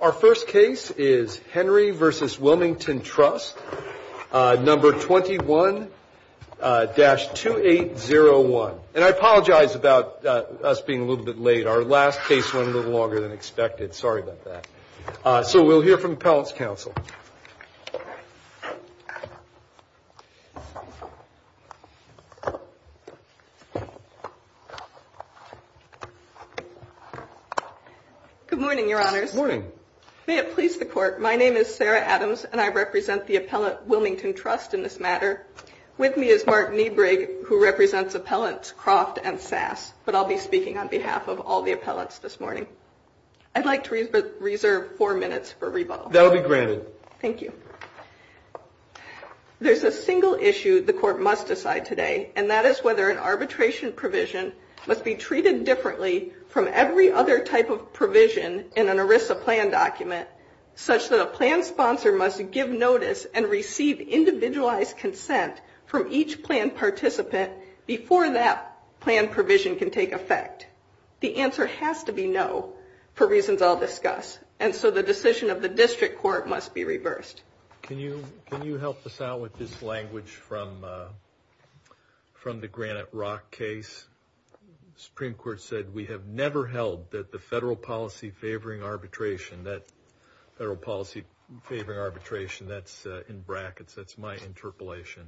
Our first case is Henry v. Wilmington Trust, number 21-2801. And I apologize about us being a little bit late. Our last case went a little longer than expected. Sorry about that. So we'll hear from Appellant's counsel. Good morning, Your Honors. Good morning. May it please the Court, my name is Sarah Adams, and I represent the Appellant Wilmington Trust in this matter. With me is Mark Kneebrig, who represents Appellants Croft and Sass. But I'll be speaking on behalf of all the appellants this morning. I'd like to reserve four minutes for rebuttal. That will be granted. Thank you. There's a single issue the Court must decide today, and that is whether an arbitration provision must be treated differently from every other type of provision in an ERISA plan document such that a plan sponsor must give notice and receive individualized consent from each plan participant before that plan provision can take effect. The answer has to be no for reasons I'll discuss. And so the decision of the District Court must be reversed. Can you help us out with this language from the Granite Rock case? The Supreme Court said, we have never held that the federal policy favoring arbitration, that's in brackets, that's my interpolation,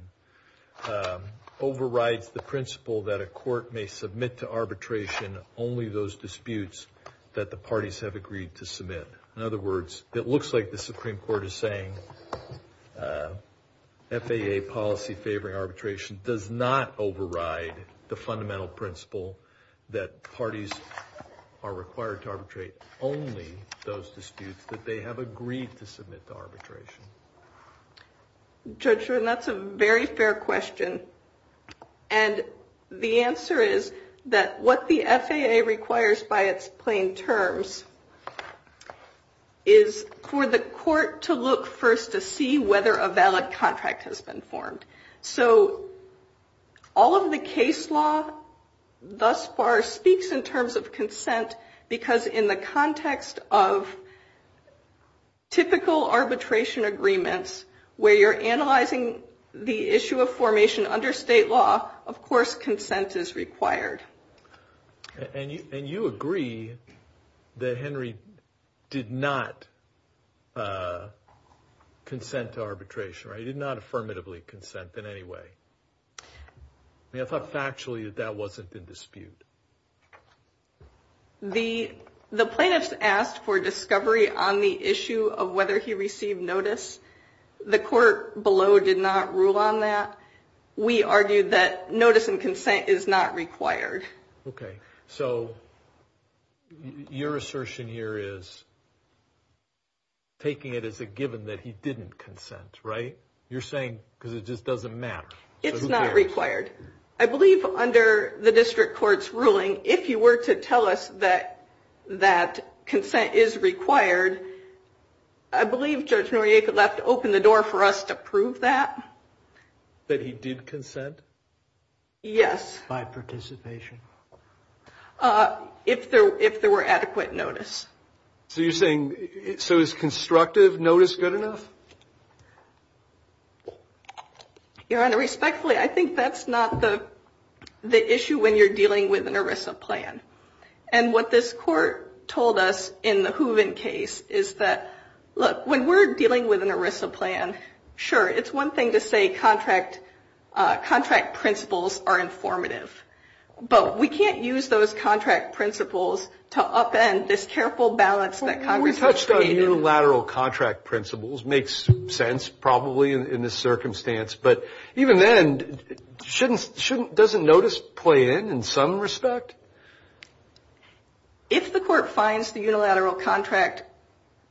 overrides the principle that a court may submit to arbitration only those disputes that the parties have agreed to submit. In other words, it looks like the Supreme Court is saying FAA policy favoring arbitration does not override the fundamental principle that parties are required to arbitrate only those disputes that they have agreed to submit to arbitration. Judge Rudin, that's a very fair question. And the answer is that what the FAA requires by its plain terms is for the court to look first to see whether a valid contract has been formed. So all of the case law thus far speaks in terms of consent because in the context of typical arbitration agreements where you're analyzing the issue of formation under state law, of course consent is required. And you agree that Henry did not consent to arbitration, right? He did not affirmatively consent in any way. I mean, I thought factually that that wasn't in dispute. The plaintiffs asked for discovery on the issue of whether he received notice. The court below did not rule on that. We argued that notice and consent is not required. Okay. So your assertion here is taking it as a given that he didn't consent, right? You're saying because it just doesn't matter. It's not required. I believe under the district court's ruling, if you were to tell us that consent is required, I believe Judge Noriega left open the door for us to prove that. That he did consent? Yes. By participation. If there were adequate notice. So you're saying, so is constructive notice good enough? Your Honor, respectfully, I think that's not the issue when you're dealing with an ERISA plan. And what this court told us in the Hooven case is that, look, when we're dealing with an ERISA plan, sure, it's one thing to say contract principles are informative. But we can't use those contract principles to upend this careful balance that Congress has created. We touched on unilateral contract principles. Makes sense, probably, in this circumstance. But even then, doesn't notice play in, in some respect? If the court finds the unilateral contract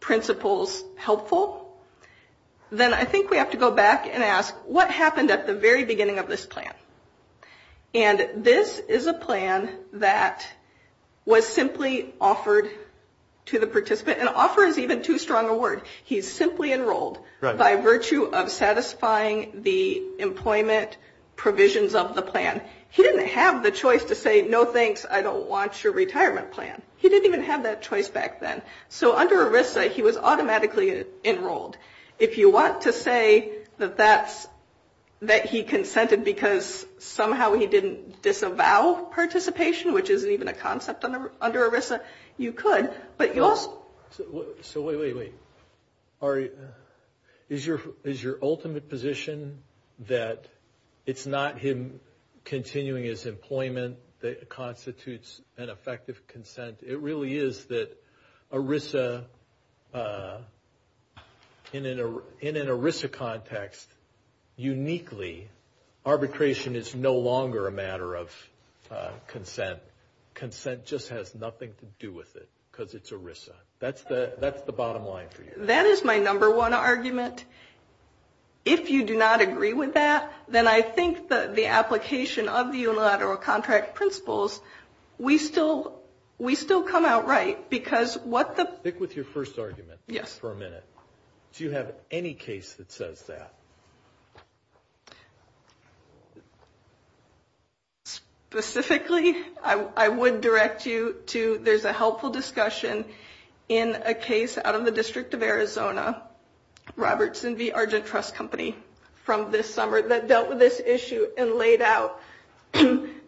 principles helpful, then I think we have to go back and ask, what happened at the very beginning of this plan? And this is a plan that was simply offered to the participant. And offer is even too strong a word. He's simply enrolled by virtue of satisfying the employment provisions of the plan. He didn't have the choice to say, no, thanks, I don't want your retirement plan. He didn't even have that choice back then. So under ERISA, he was automatically enrolled. If you want to say that that's, that he consented because somehow he didn't disavow participation, which isn't even a concept under ERISA, you could. So wait, wait, wait. Ari, is your ultimate position that it's not him continuing his employment that constitutes an effective consent? It really is that ERISA, in an ERISA context, uniquely, arbitration is no longer a matter of consent. Consent just has nothing to do with it, because it's ERISA. That's the bottom line for you. That is my number one argument. If you do not agree with that, then I think the application of the unilateral contract principles, we still come out right. Stick with your first argument for a minute. Do you have any case that says that? Specifically, I would direct you to, there's a helpful discussion in a case out of the District of Arizona, Robertson v. Argent Trust Company, from this summer that dealt with this issue and laid out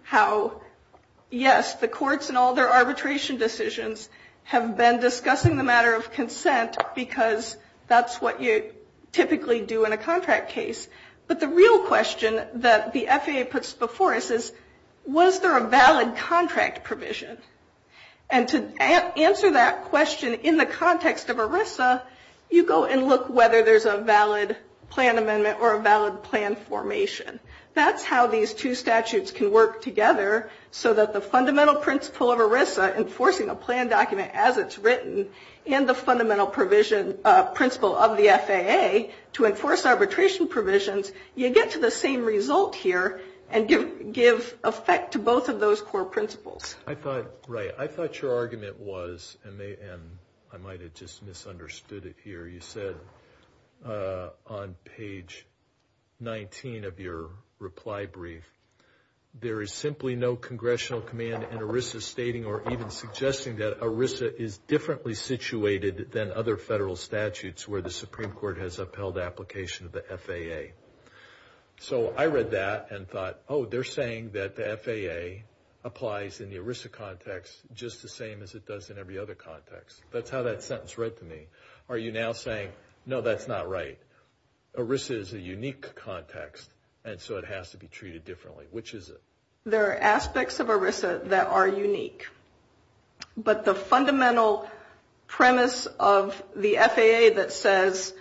how, yes, the courts and all their arbitration decisions have been discussing the matter of consent, because that's what you typically do in a contract case. But the real question that the FAA puts before us is, was there a valid contract provision? And to answer that question in the context of ERISA, you go and look whether there's a valid plan amendment or a valid plan formation. That's how these two statutes can work together so that the fundamental principle of ERISA, enforcing a plan document as it's written in the fundamental principle of the FAA to enforce arbitration provisions, you get to the same result here and give effect to both of those core principles. I thought your argument was, and I might have just misunderstood it here, you said on page 19 of your reply brief, there is simply no congressional command in ERISA stating or even suggesting that ERISA is differently situated than other federal statutes where the Supreme Court has upheld application of the FAA. So I read that and thought, oh, they're saying that the FAA applies in the ERISA context just the same as it does in every other context. That's how that sentence read to me. Are you now saying, no, that's not right? ERISA is a unique context, and so it has to be treated differently. Which is it? There are aspects of ERISA that are unique. But the fundamental premise of the FAA that says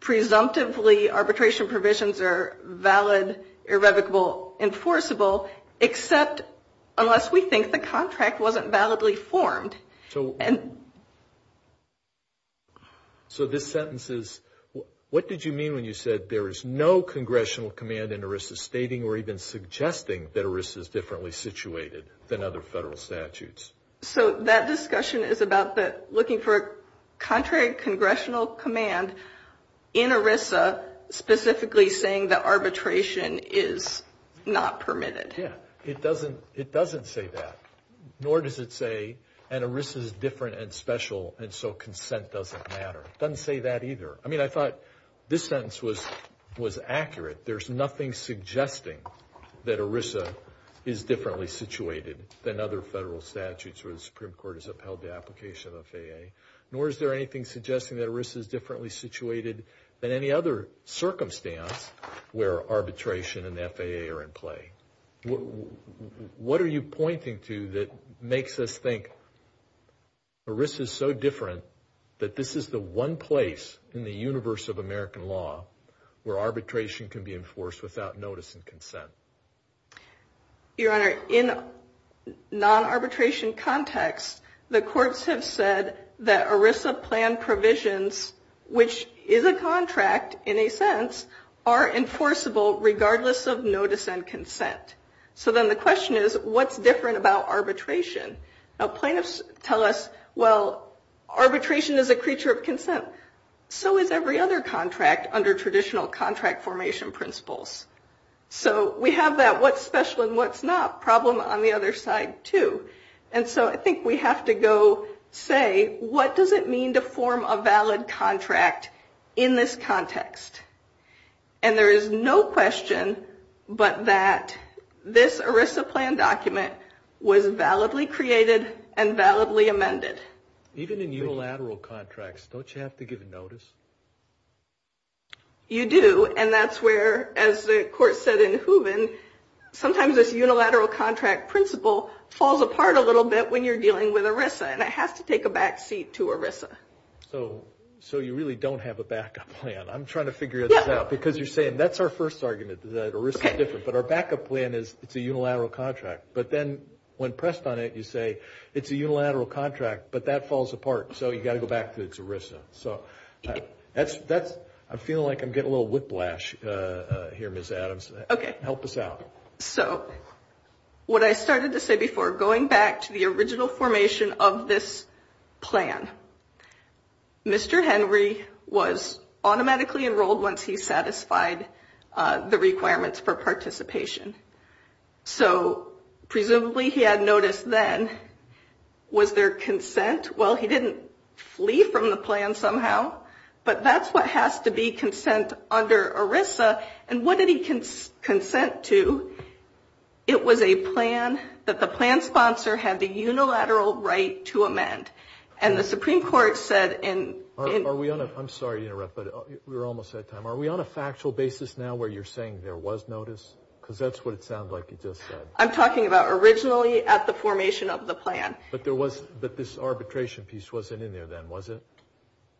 presumptively arbitration provisions are valid, irrevocable, enforceable, except unless we think the contract wasn't validly formed. So this sentence is, what did you mean when you said there is no congressional command in ERISA stating or even suggesting that ERISA is differently situated than other federal statutes? So that discussion is about looking for a contrary congressional command in ERISA specifically saying that arbitration is not permitted. Yeah. It doesn't say that. Nor does it say an ERISA is different and special and so consent doesn't matter. It doesn't say that either. I mean, I thought this sentence was accurate. There's nothing suggesting that ERISA is differently situated than other federal statutes where the Supreme Court has upheld the application of FAA. Nor is there anything suggesting that ERISA is differently situated than any other circumstance where arbitration and the FAA are in play. What are you pointing to that makes us think ERISA is so different that this is the one place in the universe of American law where arbitration can be enforced without notice and consent? Your Honor, in non-arbitration context, the courts have said that ERISA plan provisions, which is a contract in a sense, are enforceable regardless of notice and consent. So then the question is, what's different about arbitration? Now plaintiffs tell us, well, arbitration is a creature of consent. So is every other contract under traditional contract formation principles. So we have that what's special and what's not problem on the other side too. And so I think we have to go say, what does it mean to form a valid contract in this context? And there is no question but that this ERISA plan document was validly created and validly amended. Even in unilateral contracts, don't you have to give notice? You do. And that's where, as the court said in Hooven, sometimes this unilateral contract principle falls apart a little bit when you're dealing with ERISA. And it has to take a back seat to ERISA. So you really don't have a backup plan. I'm trying to figure this out because you're saying that's our first argument, that ERISA is different. But our backup plan is it's a unilateral contract. But then when pressed on it, you say it's a unilateral contract, but that falls apart. So you've got to go back to it's ERISA. I'm feeling like I'm getting a little whiplash here, Ms. Adams. Okay. Help us out. So what I started to say before, going back to the original formation of this plan, Mr. Henry was automatically enrolled once he satisfied the requirements for participation. So presumably he had notice then. Was there consent? Well, he didn't flee from the plan somehow, but that's what has to be consent under ERISA. And what did he consent to? It was a plan that the plan sponsor had the unilateral right to amend. And the Supreme Court said in – Are we on a – I'm sorry to interrupt, but we're almost out of time. Are we on a factual basis now where you're saying there was notice? Because that's what it sounds like you just said. I'm talking about originally at the formation of the plan. But there was – but this arbitration piece wasn't in there then, was it?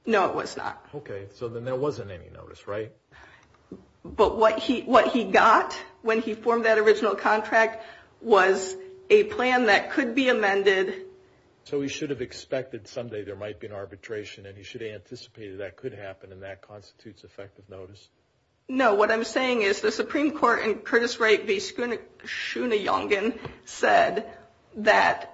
No, it was not. Okay. So then there wasn't any notice, right? But what he got when he formed that original contract was a plan that could be amended. So he should have expected someday there might be an arbitration, and he should have anticipated that could happen, and that constitutes effective notice? No. So what I'm saying is the Supreme Court in Curtis Wright v. Schooney-Yongen said that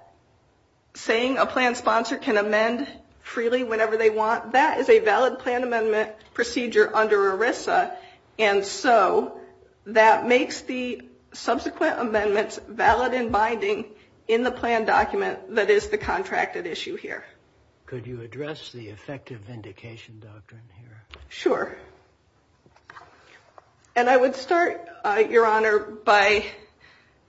saying a plan sponsor can amend freely whenever they want, that is a valid plan amendment procedure under ERISA. And so that makes the subsequent amendments valid and binding in the plan document that is the contracted issue here. Could you address the effective vindication doctrine here? Sure. And I would start, Your Honor, by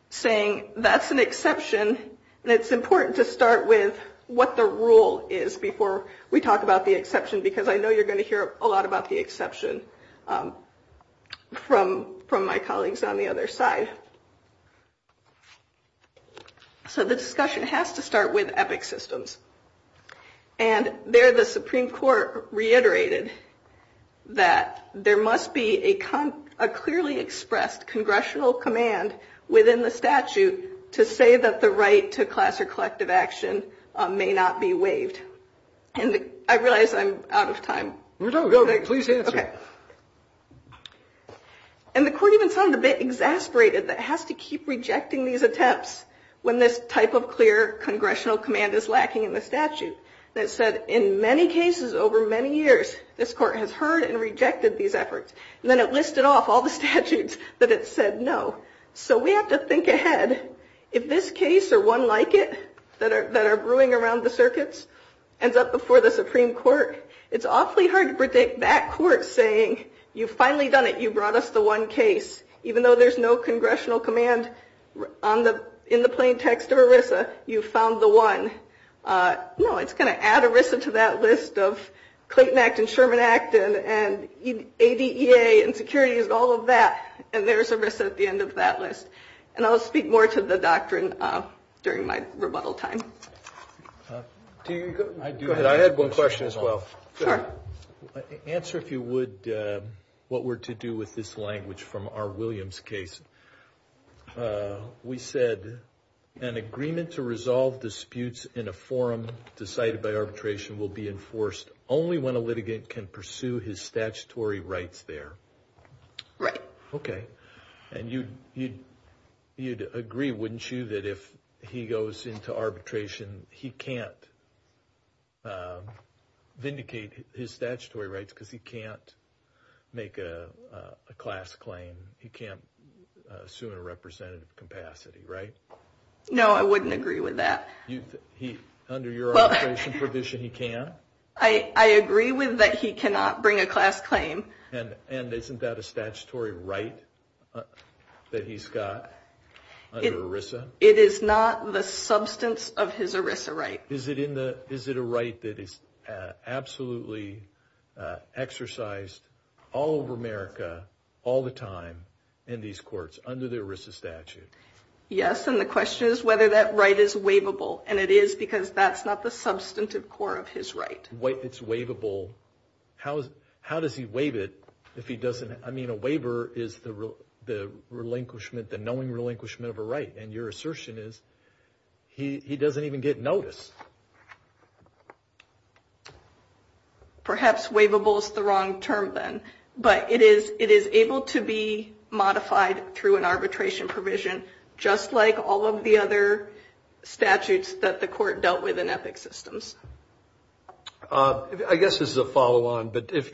saying that's an exception, and it's important to start with what the rule is before we talk about the exception, because I know you're going to hear a lot about the exception from my colleagues on the other side. So the discussion has to start with EPIC systems. And there the Supreme Court reiterated that there must be a clearly expressed congressional command within the statute to say that the right to class or collective action may not be waived. And I realize I'm out of time. No, no, please answer. And the court even sounded a bit exasperated that it has to keep rejecting these attempts when this type of clear congressional command is lacking in the statute. And it said in many cases over many years this court has heard and rejected these efforts. And then it listed off all the statutes that it said no. So we have to think ahead. If this case or one like it that are brewing around the circuits ends up before the Supreme Court, it's awfully hard to predict that court saying you've finally done it, you brought us the one case, even though there's no congressional command in the plain text of ERISA, you found the one. No, it's going to add ERISA to that list of Clayton Act and Sherman Act and ADEA and securities, all of that. And there's ERISA at the end of that list. And I'll speak more to the doctrine during my rebuttal time. Go ahead. I had one question as well. Answer if you would what were to do with this language from our Williams case. We said an agreement to resolve disputes in a forum decided by arbitration will be enforced only when a litigant can pursue his statutory rights there. Right. Okay. And you'd agree, wouldn't you, that if he goes into arbitration, he can't vindicate his statutory rights because he can't make a class claim. He can't sue in a representative capacity, right? No, I wouldn't agree with that. Under your arbitration provision, he can? I agree with that he cannot bring a class claim. And isn't that a statutory right that he's got under ERISA? It is not the substance of his ERISA right. Is it a right that is absolutely exercised all over America all the time in these courts under the ERISA statute? Yes, and the question is whether that right is waivable. And it is because that's not the substantive core of his right. It's waivable. How does he waive it if he doesn't? I mean, a waiver is the relinquishment, the knowing relinquishment of a right. And your assertion is he doesn't even get notice. Perhaps waivable is the wrong term then. But it is able to be modified through an arbitration provision, just like all of the other statutes that the court dealt with in EPIC systems. I guess this is a follow-on, but if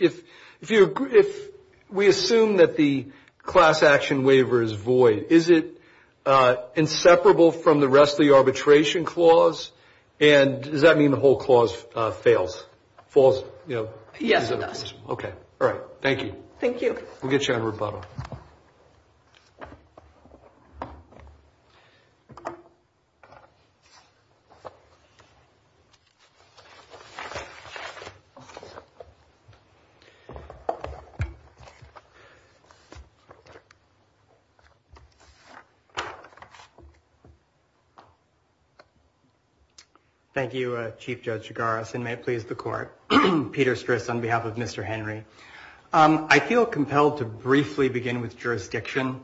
we assume that the class action waiver is void, is it inseparable from the rest of the arbitration clause? And does that mean the whole clause fails, falls? Yes, it does. Okay. All right. Thank you. Thank you. All right. We'll get you out of rebuttal. Thank you, Chief Judge Garrison. May it please the Court. Peter Stris on behalf of Mr. Henry. I feel compelled to briefly begin with jurisdiction,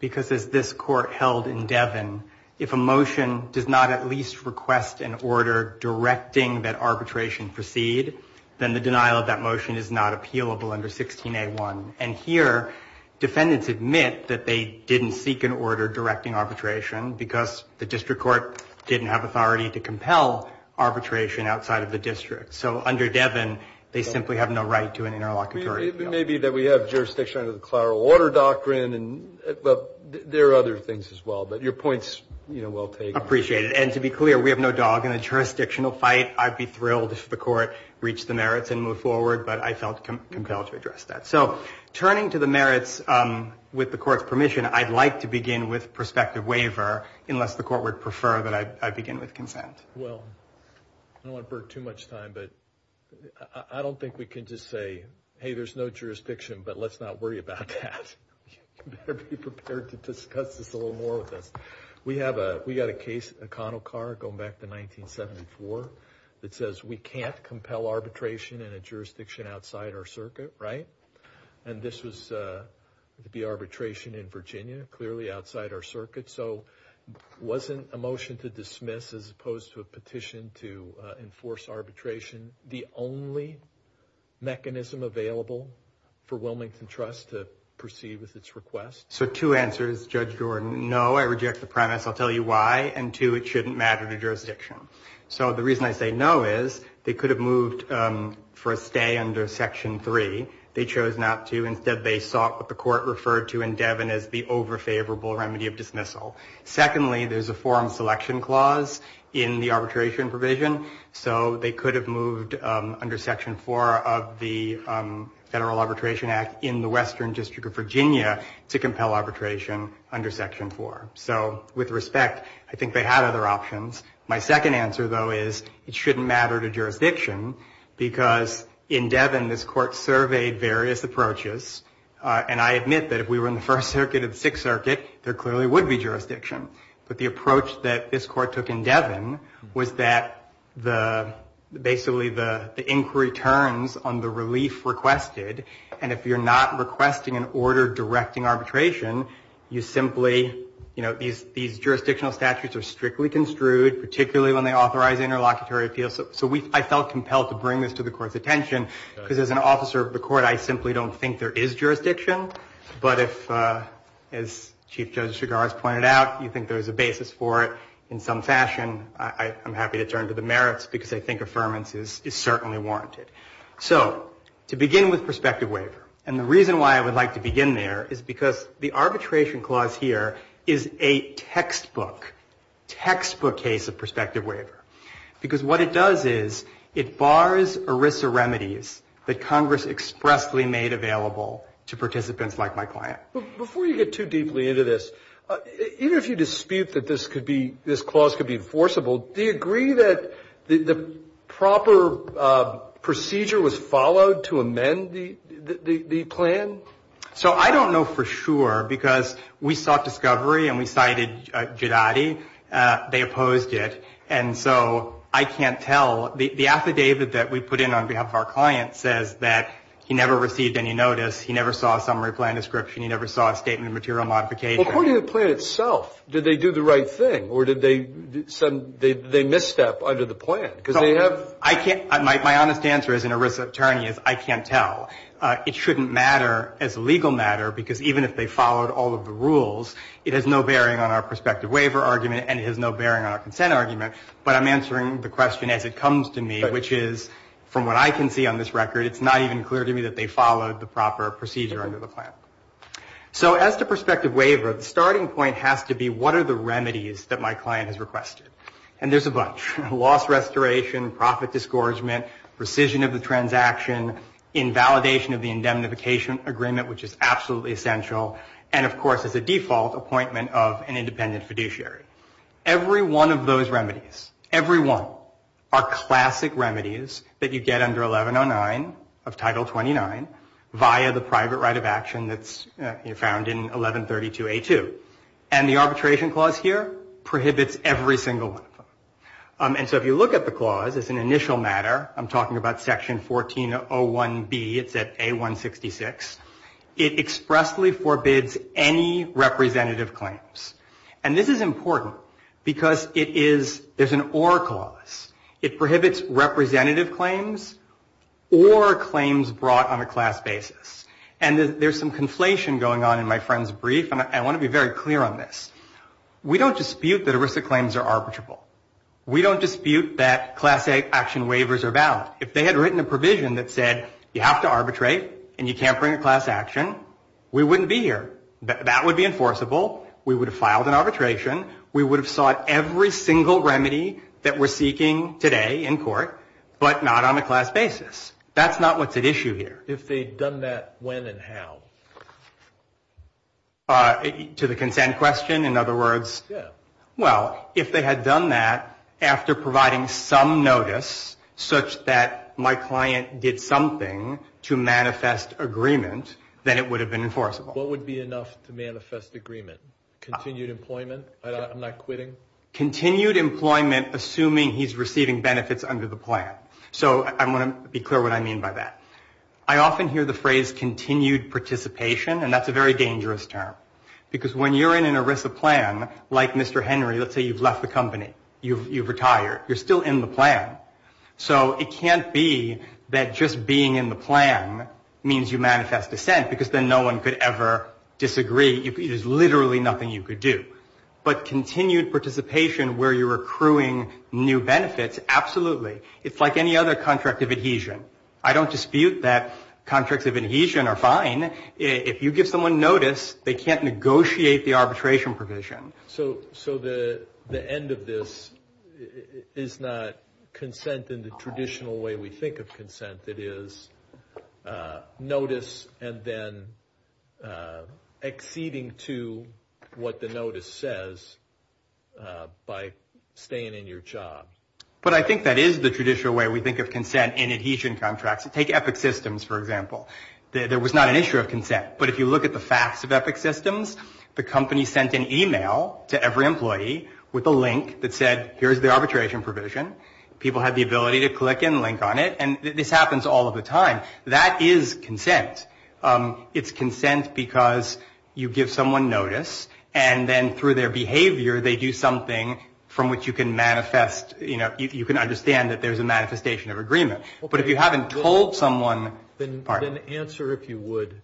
because as this Court held in Devon, if a motion does not at least request an order directing that arbitration proceed, then the denial of that motion is not appealable under 16A1. And here, defendants admit that they didn't seek an order directing arbitration because the district court didn't have authority to compel arbitration outside of the district. So under Devon, they simply have no right to an interlocutory appeal. It may be that we have jurisdiction under the Clara Water Doctrine, but there are other things as well. But your point is well taken. I appreciate it. And to be clear, we have no dog in a jurisdictional fight. I'd be thrilled if the Court reached the merits and moved forward, but I felt compelled to address that. So turning to the merits, with the Court's permission, I'd like to begin with prospective waiver, unless the Court would prefer that I begin with consent. Well, I don't want to burn too much time, but I don't think we can just say, hey, there's no jurisdiction, but let's not worry about that. You better be prepared to discuss this a little more with us. We have a case, O'Connell Carr, going back to 1974, that says we can't compel arbitration in a jurisdiction outside our circuit, right? And this was the arbitration in Virginia, clearly outside our circuit. So wasn't a motion to dismiss, as opposed to a petition to enforce arbitration, the only mechanism available for Wilmington Trust to proceed with its request? So two answers, Judge Jordan. No, I reject the premise. I'll tell you why. And two, it shouldn't matter to jurisdiction. So the reason I say no is they could have moved for a stay under Section 3. They chose not to. Instead, they sought what the Court referred to in Devin as the over-favorable remedy of dismissal. Secondly, there's a forum selection clause in the arbitration provision, so they could have moved under Section 4 of the Federal Arbitration Act in the Western District of Virginia to compel arbitration under Section 4. So with respect, I think they had other options. My second answer, though, is it shouldn't matter to jurisdiction because in Devin, this Court surveyed various approaches. And I admit that if we were in the First Circuit or the Sixth Circuit, there clearly would be jurisdiction. But the approach that this Court took in Devin was that basically the inquiry turns on the relief requested. And if you're not requesting an order directing arbitration, these jurisdictional statutes are strictly construed, particularly when they authorize interlocutory appeals. So I felt compelled to bring this to the Court's attention because as an officer of the Court, I simply don't think there is jurisdiction. But if, as Chief Judge Chigars pointed out, you think there's a basis for it in some fashion, I'm happy to turn to the merits because I think affirmance is certainly warranted. So to begin with prospective waiver, and the reason why I would like to begin there is because the arbitration clause here is a textbook, textbook case of prospective waiver because what it does is it bars ERISA remedies that Congress expressly made available to participants like my client. Before you get too deeply into this, even if you dispute that this could be, this clause could be enforceable, do you agree that the proper procedure was followed to amend the plan? So I don't know for sure because we sought discovery and we cited Gidati. They opposed it. And so I can't tell. The affidavit that we put in on behalf of our client says that he never received any notice, he never saw a summary plan description, he never saw a statement of material modification. Well, according to the plan itself, did they do the right thing or did they misstep under the plan? Because they have ---- My honest answer as an ERISA attorney is I can't tell. It shouldn't matter as a legal matter because even if they followed all of the rules, it has no bearing on our prospective waiver argument and it has no bearing on our consent argument. But I'm answering the question as it comes to me, which is from what I can see on this record, it's not even clear to me that they followed the proper procedure under the plan. So as to prospective waiver, the starting point has to be what are the remedies that my client has requested. And there's a bunch. Loss restoration, profit disgorgement, rescission of the transaction, invalidation of the indemnification agreement, which is absolutely essential, and of course is a default appointment of an independent fiduciary. Every one of those remedies, every one, are classic remedies that you get under 1109 of Title 29 via the private right of action that's found in 1132A2. And the arbitration clause here prohibits every single one of them. And so if you look at the clause as an initial matter, I'm talking about Section 1401B, it's at A166. It expressly forbids any representative claims. And this is important because it is, there's an or clause. It prohibits representative claims or claims brought on a class basis. And there's some conflation going on in my friend's brief, and I want to be very clear on this. We don't dispute that ERISA claims are arbitrable. We don't dispute that class action waivers are valid. If they had written a provision that said you have to arbitrate and you can't bring a class action, we wouldn't be here. That would be enforceable. We would have filed an arbitration. We would have sought every single remedy that we're seeking today in court, but not on a class basis. That's not what's at issue here. If they'd done that, when and how? To the consent question, in other words. Yeah. Well, if they had done that after providing some notice such that my client did something to manifest agreement, then it would have been enforceable. What would be enough to manifest agreement? Continued employment? I'm not quitting? Continued employment, assuming he's receiving benefits under the plan. So I want to be clear what I mean by that. I often hear the phrase continued participation, and that's a very dangerous term. Because when you're in an ERISA plan, like Mr. Henry, let's say you've left the company, you've retired, you're still in the plan. So it can't be that just being in the plan means you manifest dissent because then no one could ever disagree. There's literally nothing you could do. But continued participation where you're accruing new benefits, absolutely. It's like any other contract of adhesion. I don't dispute that contracts of adhesion are fine. If you give someone notice, they can't negotiate the arbitration provision. So the end of this is not consent in the traditional way we think of consent. It is notice and then acceding to what the notice says by staying in your job. But I think that is the traditional way we think of consent in adhesion contracts. Take Epic Systems, for example. There was not an issue of consent. But if you look at the facts of Epic Systems, the company sent an e-mail to every employee with a link that said, here's the arbitration provision. People have the ability to click and link on it. And this happens all of the time. That is consent. It's consent because you give someone notice, and then through their behavior, they do something from which you can manifest, you know, you can understand that there's a manifestation of agreement. But if you haven't told someone, pardon me. Then answer, if you would,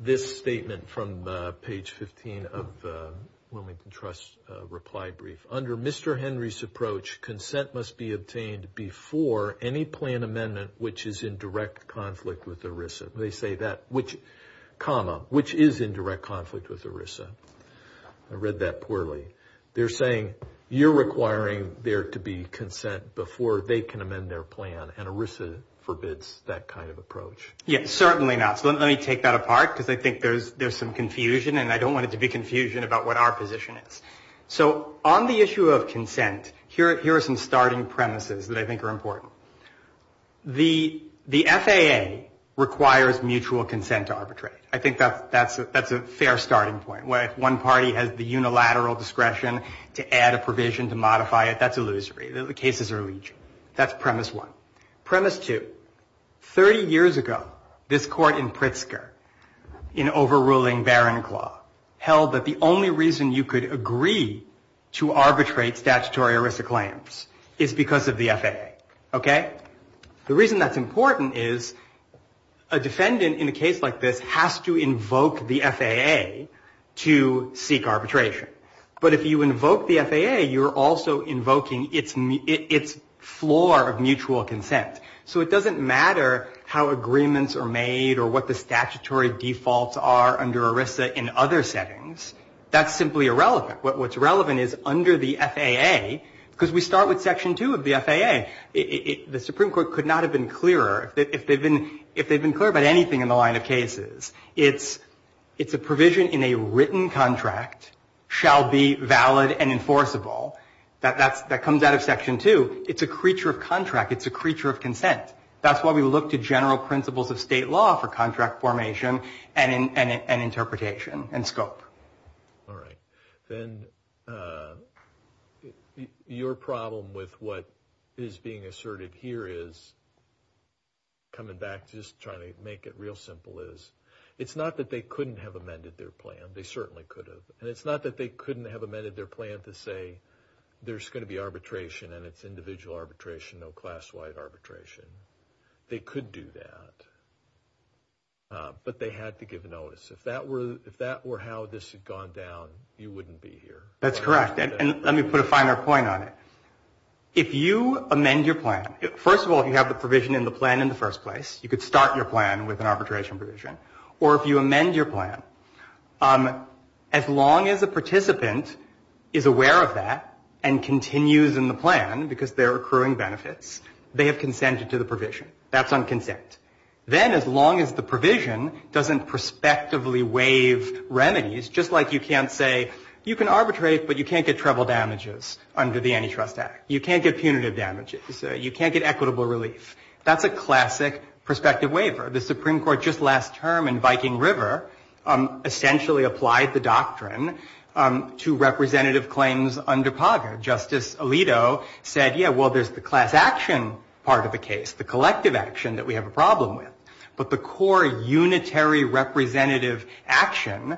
this statement from page 15 of the Wilmington Trust reply brief. Under Mr. Henry's approach, consent must be obtained before any plan amendment which is in direct conflict with ERISA. They say that, which, comma, which is in direct conflict with ERISA. I read that poorly. They're saying you're requiring there to be consent before they can amend their plan, and ERISA forbids that kind of approach. Yes, certainly not. So let me take that apart because I think there's some confusion, and I don't want it to be confusion about what our position is. So on the issue of consent, here are some starting premises that I think are important. The FAA requires mutual consent to arbitrate. I think that's a fair starting point. One party has the unilateral discretion to add a provision to modify it. That's illusory. The cases are legion. That's premise one. Premise two, 30 years ago, this court in Pritzker, in overruling Barron Claw, held that the only reason you could agree to arbitrate statutory ERISA claims is because of the FAA. Okay? The reason that's important is a defendant in a case like this has to invoke the FAA to seek arbitration. But if you invoke the FAA, you're also invoking its floor of mutual consent. So it doesn't matter how agreements are made or what the statutory defaults are under ERISA in other settings. That's simply irrelevant. What's relevant is under the FAA, because we start with Section 2 of the FAA, the Supreme Court could not have been clearer if they'd been clear about anything in the line of cases. It's a provision in a written contract shall be valid and enforceable. That comes out of Section 2. It's a creature of contract. It's a creature of consent. That's why we look to general principles of state law for contract formation and interpretation and scope. All right. Then your problem with what is being asserted here is, coming back, just trying to make it real simple, is it's not that they couldn't have amended their plan. They certainly could have. And it's not that they couldn't have amended their plan to say there's going to be arbitration, and it's individual arbitration, no class-wide arbitration. They could do that. But they had to give notice. If that were how this had gone down, you wouldn't be here. That's correct. And let me put a finer point on it. If you amend your plan, first of all, you have the provision in the plan in the first place. You could start your plan with an arbitration provision. Or if you amend your plan, as long as a participant is aware of that and continues in the plan because they're accruing benefits, they have consented to the provision. That's on consent. Then as long as the provision doesn't prospectively waive remedies, just like you can't say you can arbitrate, but you can't get treble damages under the Antitrust Act. You can't get punitive damages. You can't get equitable relief. That's a classic prospective waiver. The Supreme Court just last term in Viking River essentially applied the doctrine to representative claims under POGGR. Justice Alito said, yeah, well, there's the class action part of the case, the collective action that we have a problem with. But the core unitary representative action,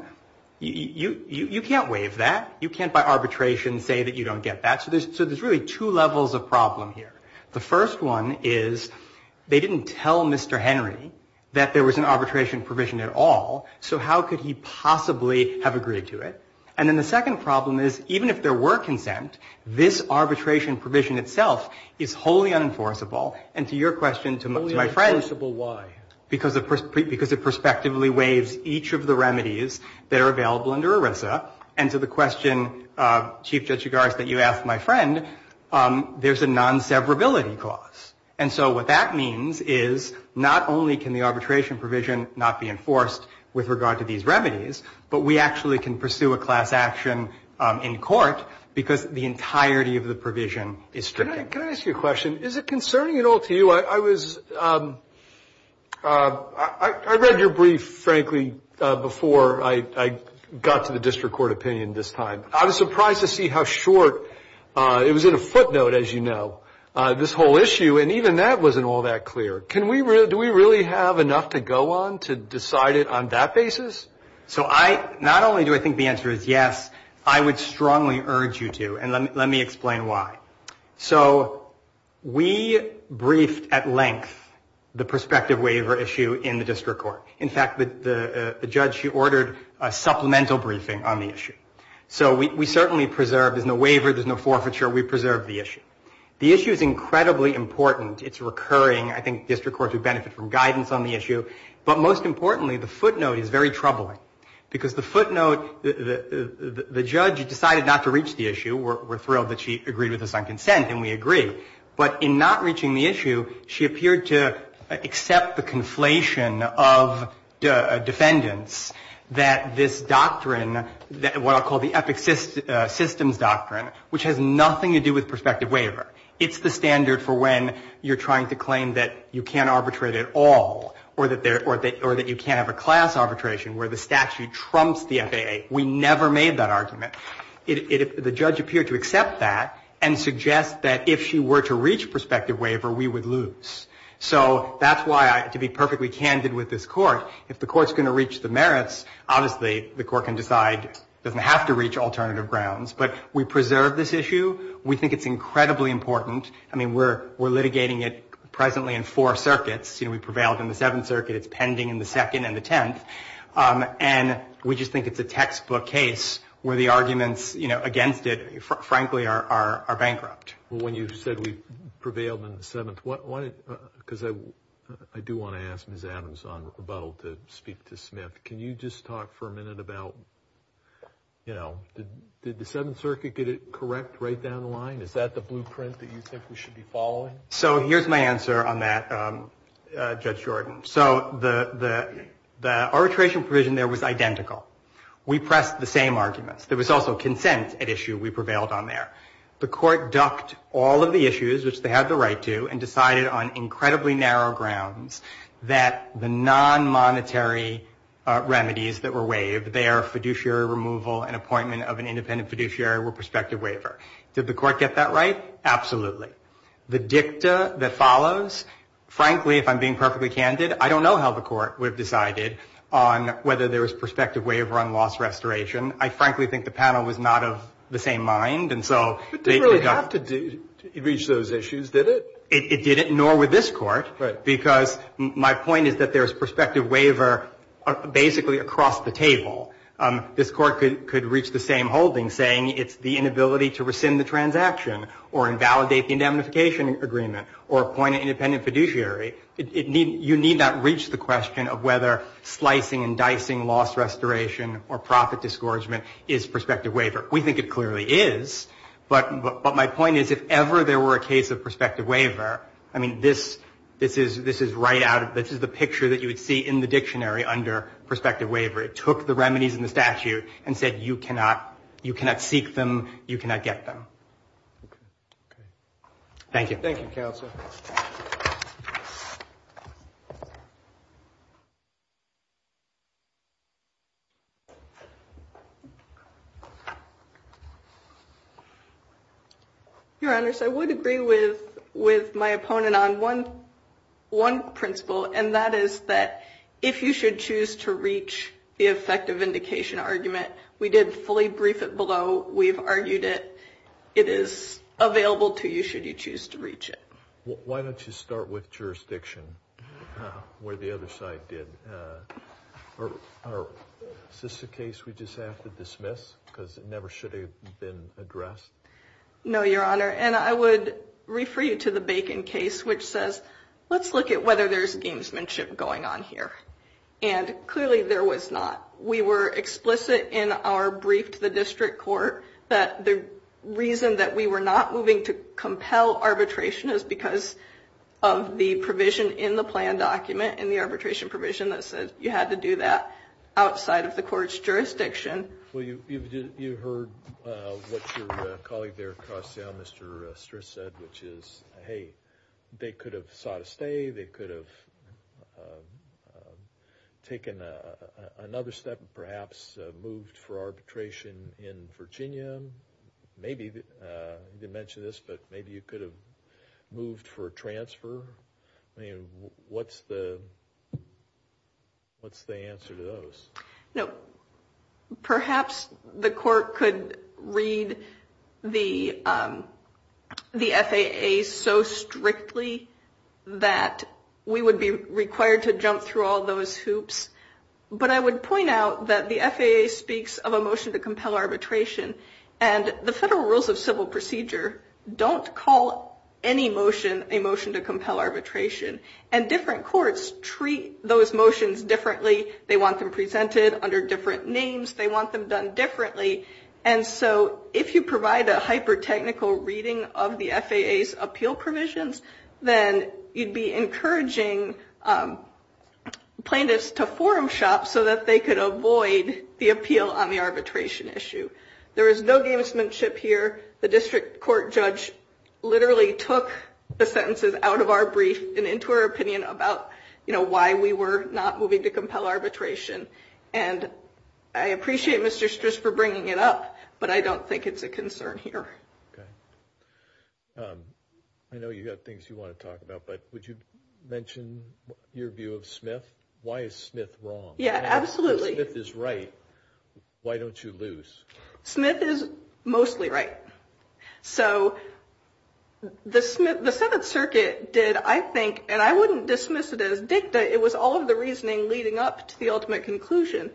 you can't waive that. You can't by arbitration say that you don't get that. So there's really two levels of problem here. The first one is they didn't tell Mr. Henry that there was an arbitration provision at all, so how could he possibly have agreed to it? And then the second problem is even if there were consent, this arbitration provision itself is wholly unenforceable. And to your question, to my friend's question. Only unenforceable why? Because it prospectively waives each of the remedies that are available under ERISA. And to the question, Chief Judge Chigars, that you asked my friend, there's a non-severability clause. And so what that means is not only can the arbitration provision not be enforced with regard to these remedies, but we actually can pursue a class action in court because the entirety of the provision is stricken. Can I ask you a question? Is it concerning at all to you? I read your brief, frankly, before I got to the district court opinion this time. I was surprised to see how short, it was in a footnote, as you know, this whole issue, and even that wasn't all that clear. Do we really have enough to go on to decide it on that basis? So not only do I think the answer is yes, I would strongly urge you to, and let me explain why. So we briefed at length the prospective waiver issue in the district court. In fact, the judge, she ordered a supplemental briefing on the issue. So we certainly preserved, there's no waiver, there's no forfeiture, we preserved the issue. The issue is incredibly important. It's recurring. I think district courts would benefit from guidance on the issue. But most importantly, the footnote is very troubling because the footnote, the judge decided not to reach the issue. We're thrilled that she agreed with us on consent, and we agree. But in not reaching the issue, she appeared to accept the conflation of defendants that this doctrine, what I'll call the epic systems doctrine, which has nothing to do with prospective waiver. It's the standard for when you're trying to claim that you can't arbitrate at all or that you can't have a class arbitration where the statute trumps the FAA. We never made that argument. The judge appeared to accept that and suggest that if she were to reach prospective waiver, we would lose. So that's why, to be perfectly candid with this court, if the court's going to reach the merits, obviously the court can decide it doesn't have to reach alternative grounds. But we preserved this issue. We think it's incredibly important. I mean, we're litigating it presently in four circuits. We prevailed in the Seventh Circuit. It's pending in the Second and the Tenth. And we just think it's a textbook case where the arguments against it, frankly, are bankrupt. Well, when you said we prevailed in the Seventh, because I do want to ask Ms. Adams on rebuttal to speak to Smith. Can you just talk for a minute about, you know, did the Seventh Circuit get it correct right down the line? Is that the blueprint that you think we should be following? So here's my answer on that, Judge Jordan. So the arbitration provision there was identical. We pressed the same arguments. There was also consent at issue. We prevailed on there. The court ducked all of the issues, which they had the right to, and decided on incredibly narrow grounds that the non-monetary remedies that were waived, they are fiduciary removal and appointment of an independent fiduciary or prospective waiver. Did the court get that right? Absolutely. The dicta that follows, frankly, if I'm being perfectly candid, I don't know how the court would have decided on whether there was prospective waiver on loss restoration. I frankly think the panel was not of the same mind. But it didn't really have to reach those issues, did it? It didn't, nor would this court, because my point is that there's prospective waiver basically across the table. or invalidate the indemnification agreement or appoint an independent fiduciary. You need not reach the question of whether slicing and dicing loss restoration or profit discouragement is prospective waiver. We think it clearly is. But my point is, if ever there were a case of prospective waiver, I mean, this is the picture that you would see in the dictionary under prospective waiver. It took the remedies in the statute and said you cannot seek them, you cannot get them. Thank you. Thank you, Counsel. Your Honors, I would agree with my opponent on one principle, and that is that if you should choose to reach the effective vindication argument, we did fully brief it below. We've argued it. It is available to you should you choose to reach it. Why don't you start with jurisdiction where the other side did? Or is this a case we just have to dismiss because it never should have been addressed? No, Your Honor. And I would refer you to the Bacon case, which says, let's look at whether there's gamesmanship going on here. And clearly there was not. We were explicit in our brief to the district court that the reason that we were not moving to compel arbitration is because of the provision in the plan document and the arbitration provision that says you had to do that outside of the court's jurisdiction. Well, you heard what your colleague there across the aisle, Mr. Stris, said, which is, hey, they could have sought a stay. They could have taken another step and perhaps moved for arbitration in Virginia. Maybe, you didn't mention this, but maybe you could have moved for a transfer. I mean, what's the answer to those? No, perhaps the court could read the FAA so strictly that we would be required to jump through all those hoops. But I would point out that the FAA speaks of a motion to compel arbitration. And the federal rules of civil procedure don't call any motion a motion to compel arbitration. And different courts treat those motions differently. They want them presented under different names. They want them done differently. And so if you provide a hyper-technical reading of the FAA's appeal provisions, then you'd be encouraging plaintiffs to forum shop so that they could avoid the appeal on the arbitration issue. There is no gamesmanship here. The district court judge literally took the sentences out of our brief and said, you know, why we were not moving to compel arbitration. And I appreciate Mr. Stris for bringing it up, but I don't think it's a concern here. Okay. I know you have things you want to talk about, but would you mention your view of Smith? Why is Smith wrong? Yeah, absolutely. If Smith is right, why don't you lose? Smith is mostly right. So the Seventh Circuit did, I think, and I wouldn't dismiss it as dictated, but it was all of the reasoning leading up to the ultimate conclusion.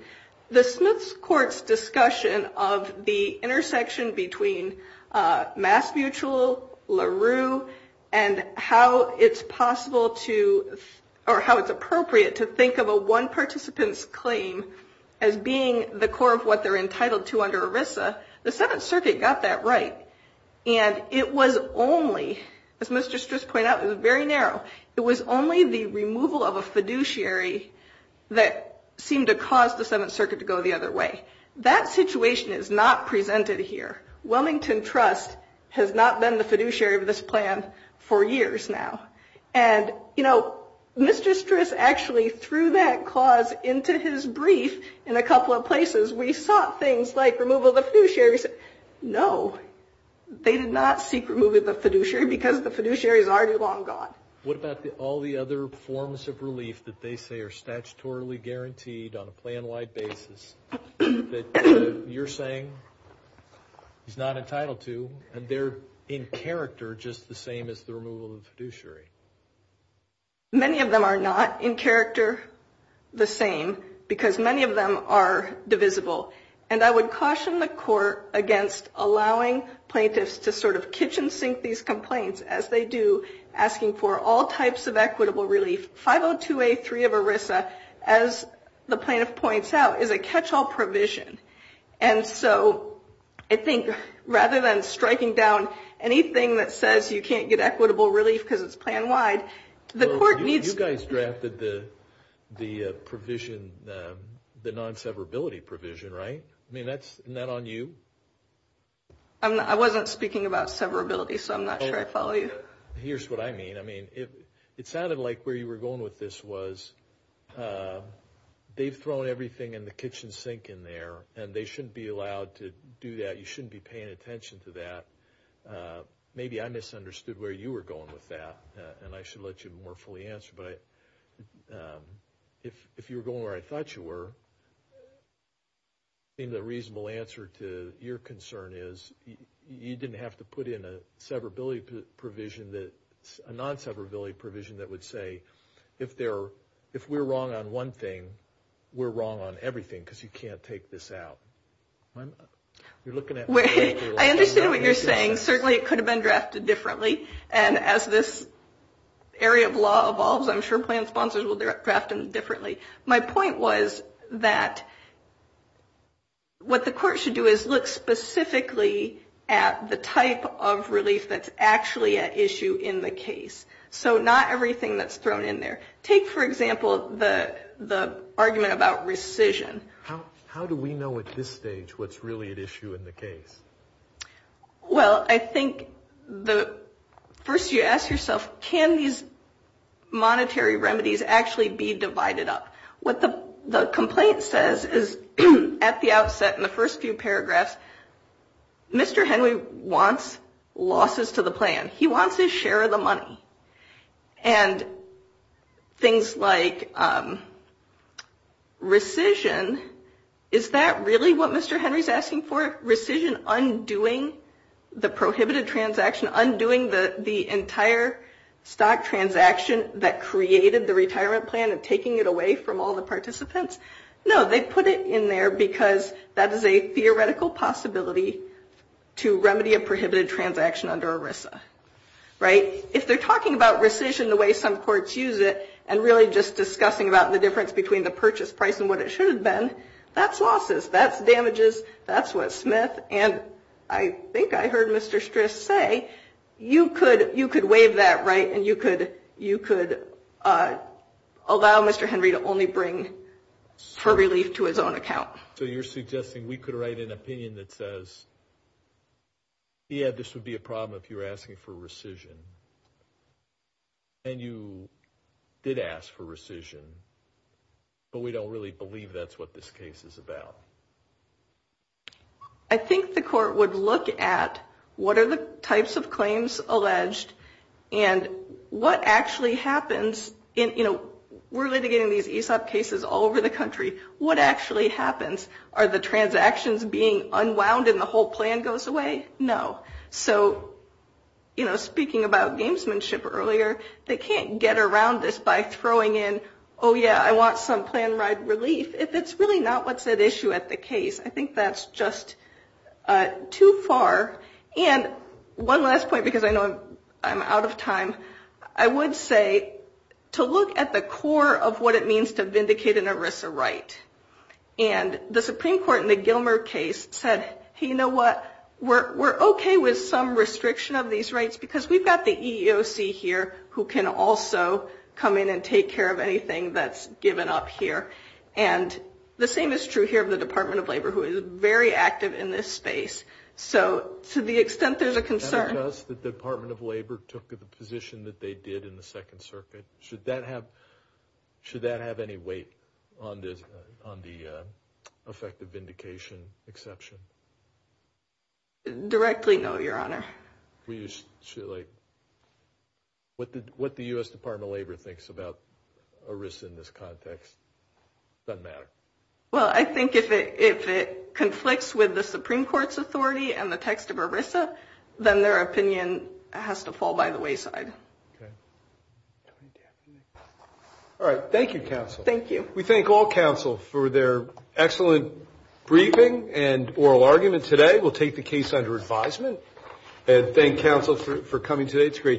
The Smith court's discussion of the intersection between Mass Mutual, LaRue, and how it's possible to, or how it's appropriate to think of a one participant's claim as being the core of what they're entitled to under ERISA, the Seventh Circuit got that right. And it was only, as Mr. Stris pointed out, it was very narrow, it was only the removal of a fiduciary that seemed to cause the Seventh Circuit to go the other way. That situation is not presented here. Wilmington Trust has not been the fiduciary of this plan for years now. And, you know, Mr. Stris actually threw that clause into his brief in a couple of places. We sought things like removal of the fiduciary. No, they did not seek removal of the fiduciary because the fiduciary is already long gone. What about all the other forms of relief that they say are statutorily guaranteed on a plan-wide basis that you're saying he's not entitled to, and they're in character just the same as the removal of the fiduciary? Many of them are not in character the same because many of them are divisible. And I would caution the court against allowing plaintiffs to sort of catch-and-sink these complaints as they do asking for all types of equitable relief. 502A3 of ERISA, as the plaintiff points out, is a catch-all provision. And so I think rather than striking down anything that says you can't get equitable relief because it's plan-wide, the court needs to... Well, you guys drafted the provision, the non-severability provision, right? I mean, isn't that on you? I wasn't speaking about severability, so I'm not sure I follow you. Here's what I mean. I mean, it sounded like where you were going with this was they've thrown everything in the kitchen sink in there, and they shouldn't be allowed to do that. You shouldn't be paying attention to that. Maybe I misunderstood where you were going with that, and I should let you more fully answer. But if you were going where I thought you were, I think the reasonable answer to your concern is you didn't have to put in a non-severability provision that would say, if we're wrong on one thing, we're wrong on everything because you can't take this out. You're looking at... I understand what you're saying. Certainly it could have been drafted differently, and as this area of law evolves, I'm sure plan sponsors will draft them differently. My point was that what the court should do is look specifically at the type of relief that's actually at issue in the case. So not everything that's thrown in there. Take, for example, the argument about rescission. How do we know at this stage what's really at issue in the case? Well, I think the first you ask yourself, can these monetary remedies actually be divided up? What the complaint says is, at the outset, in the first few paragraphs, Mr. Henry wants losses to the plan. He wants his share of the money. And things like rescission, is that really what Mr. Henry's asking for? Rescission undoing the prohibited transaction, undoing the entire stock transaction that created the retirement plan and taking it away from all the participants? No, they put it in there because that is a theoretical possibility to remedy a prohibited transaction under ERISA. If they're talking about rescission the way some courts use it and really just discussing about the difference between the purchase price and what it should have been, that's losses, that's damages, that's what Smith and I think I heard Mr. Stris say, you could waive that right and you could allow Mr. Henry to only bring for relief to his own account. So you're suggesting we could write an opinion that says, yeah, this would be a problem if you were asking for rescission. And you did ask for rescission, but we don't really believe that's what this case is about. So I think the court would look at what are the types of claims alleged and what actually happens in, you know, we're litigating these ESOP cases all over the country. What actually happens? Are the transactions being unwound and the whole plan goes away? No. So, you know, speaking about gamesmanship earlier, they can't get around this by throwing in, oh, yeah, I want some plan ride relief. It's really not what's at issue at the case. I think that's just too far. And one last point, because I know I'm out of time, I would say to look at the core of what it means to vindicate an ERISA right. And the Supreme Court in the Gilmer case said, hey, you know what, we're okay with some restriction of these rights because we've got the EEOC here who can also come in and take care of anything that's given up here. And the same is true here of the Department of Labor who is very active in this space. So to the extent there's a concern. The Department of Labor took the position that they did in the Second Circuit. Should that have any weight on the effective vindication exception? Directly, no, Your Honor. What the U.S. Department of Labor thinks about ERISA in this context doesn't matter. Well, I think if it conflicts with the Supreme Court's authority and the text of ERISA, then their opinion has to fall by the wayside. Okay. All right. Thank you, counsel. Thank you. We thank all counsel for their excellent briefing and oral argument today. We'll take the case under advisement and thank counsel for coming today. It's great to be here.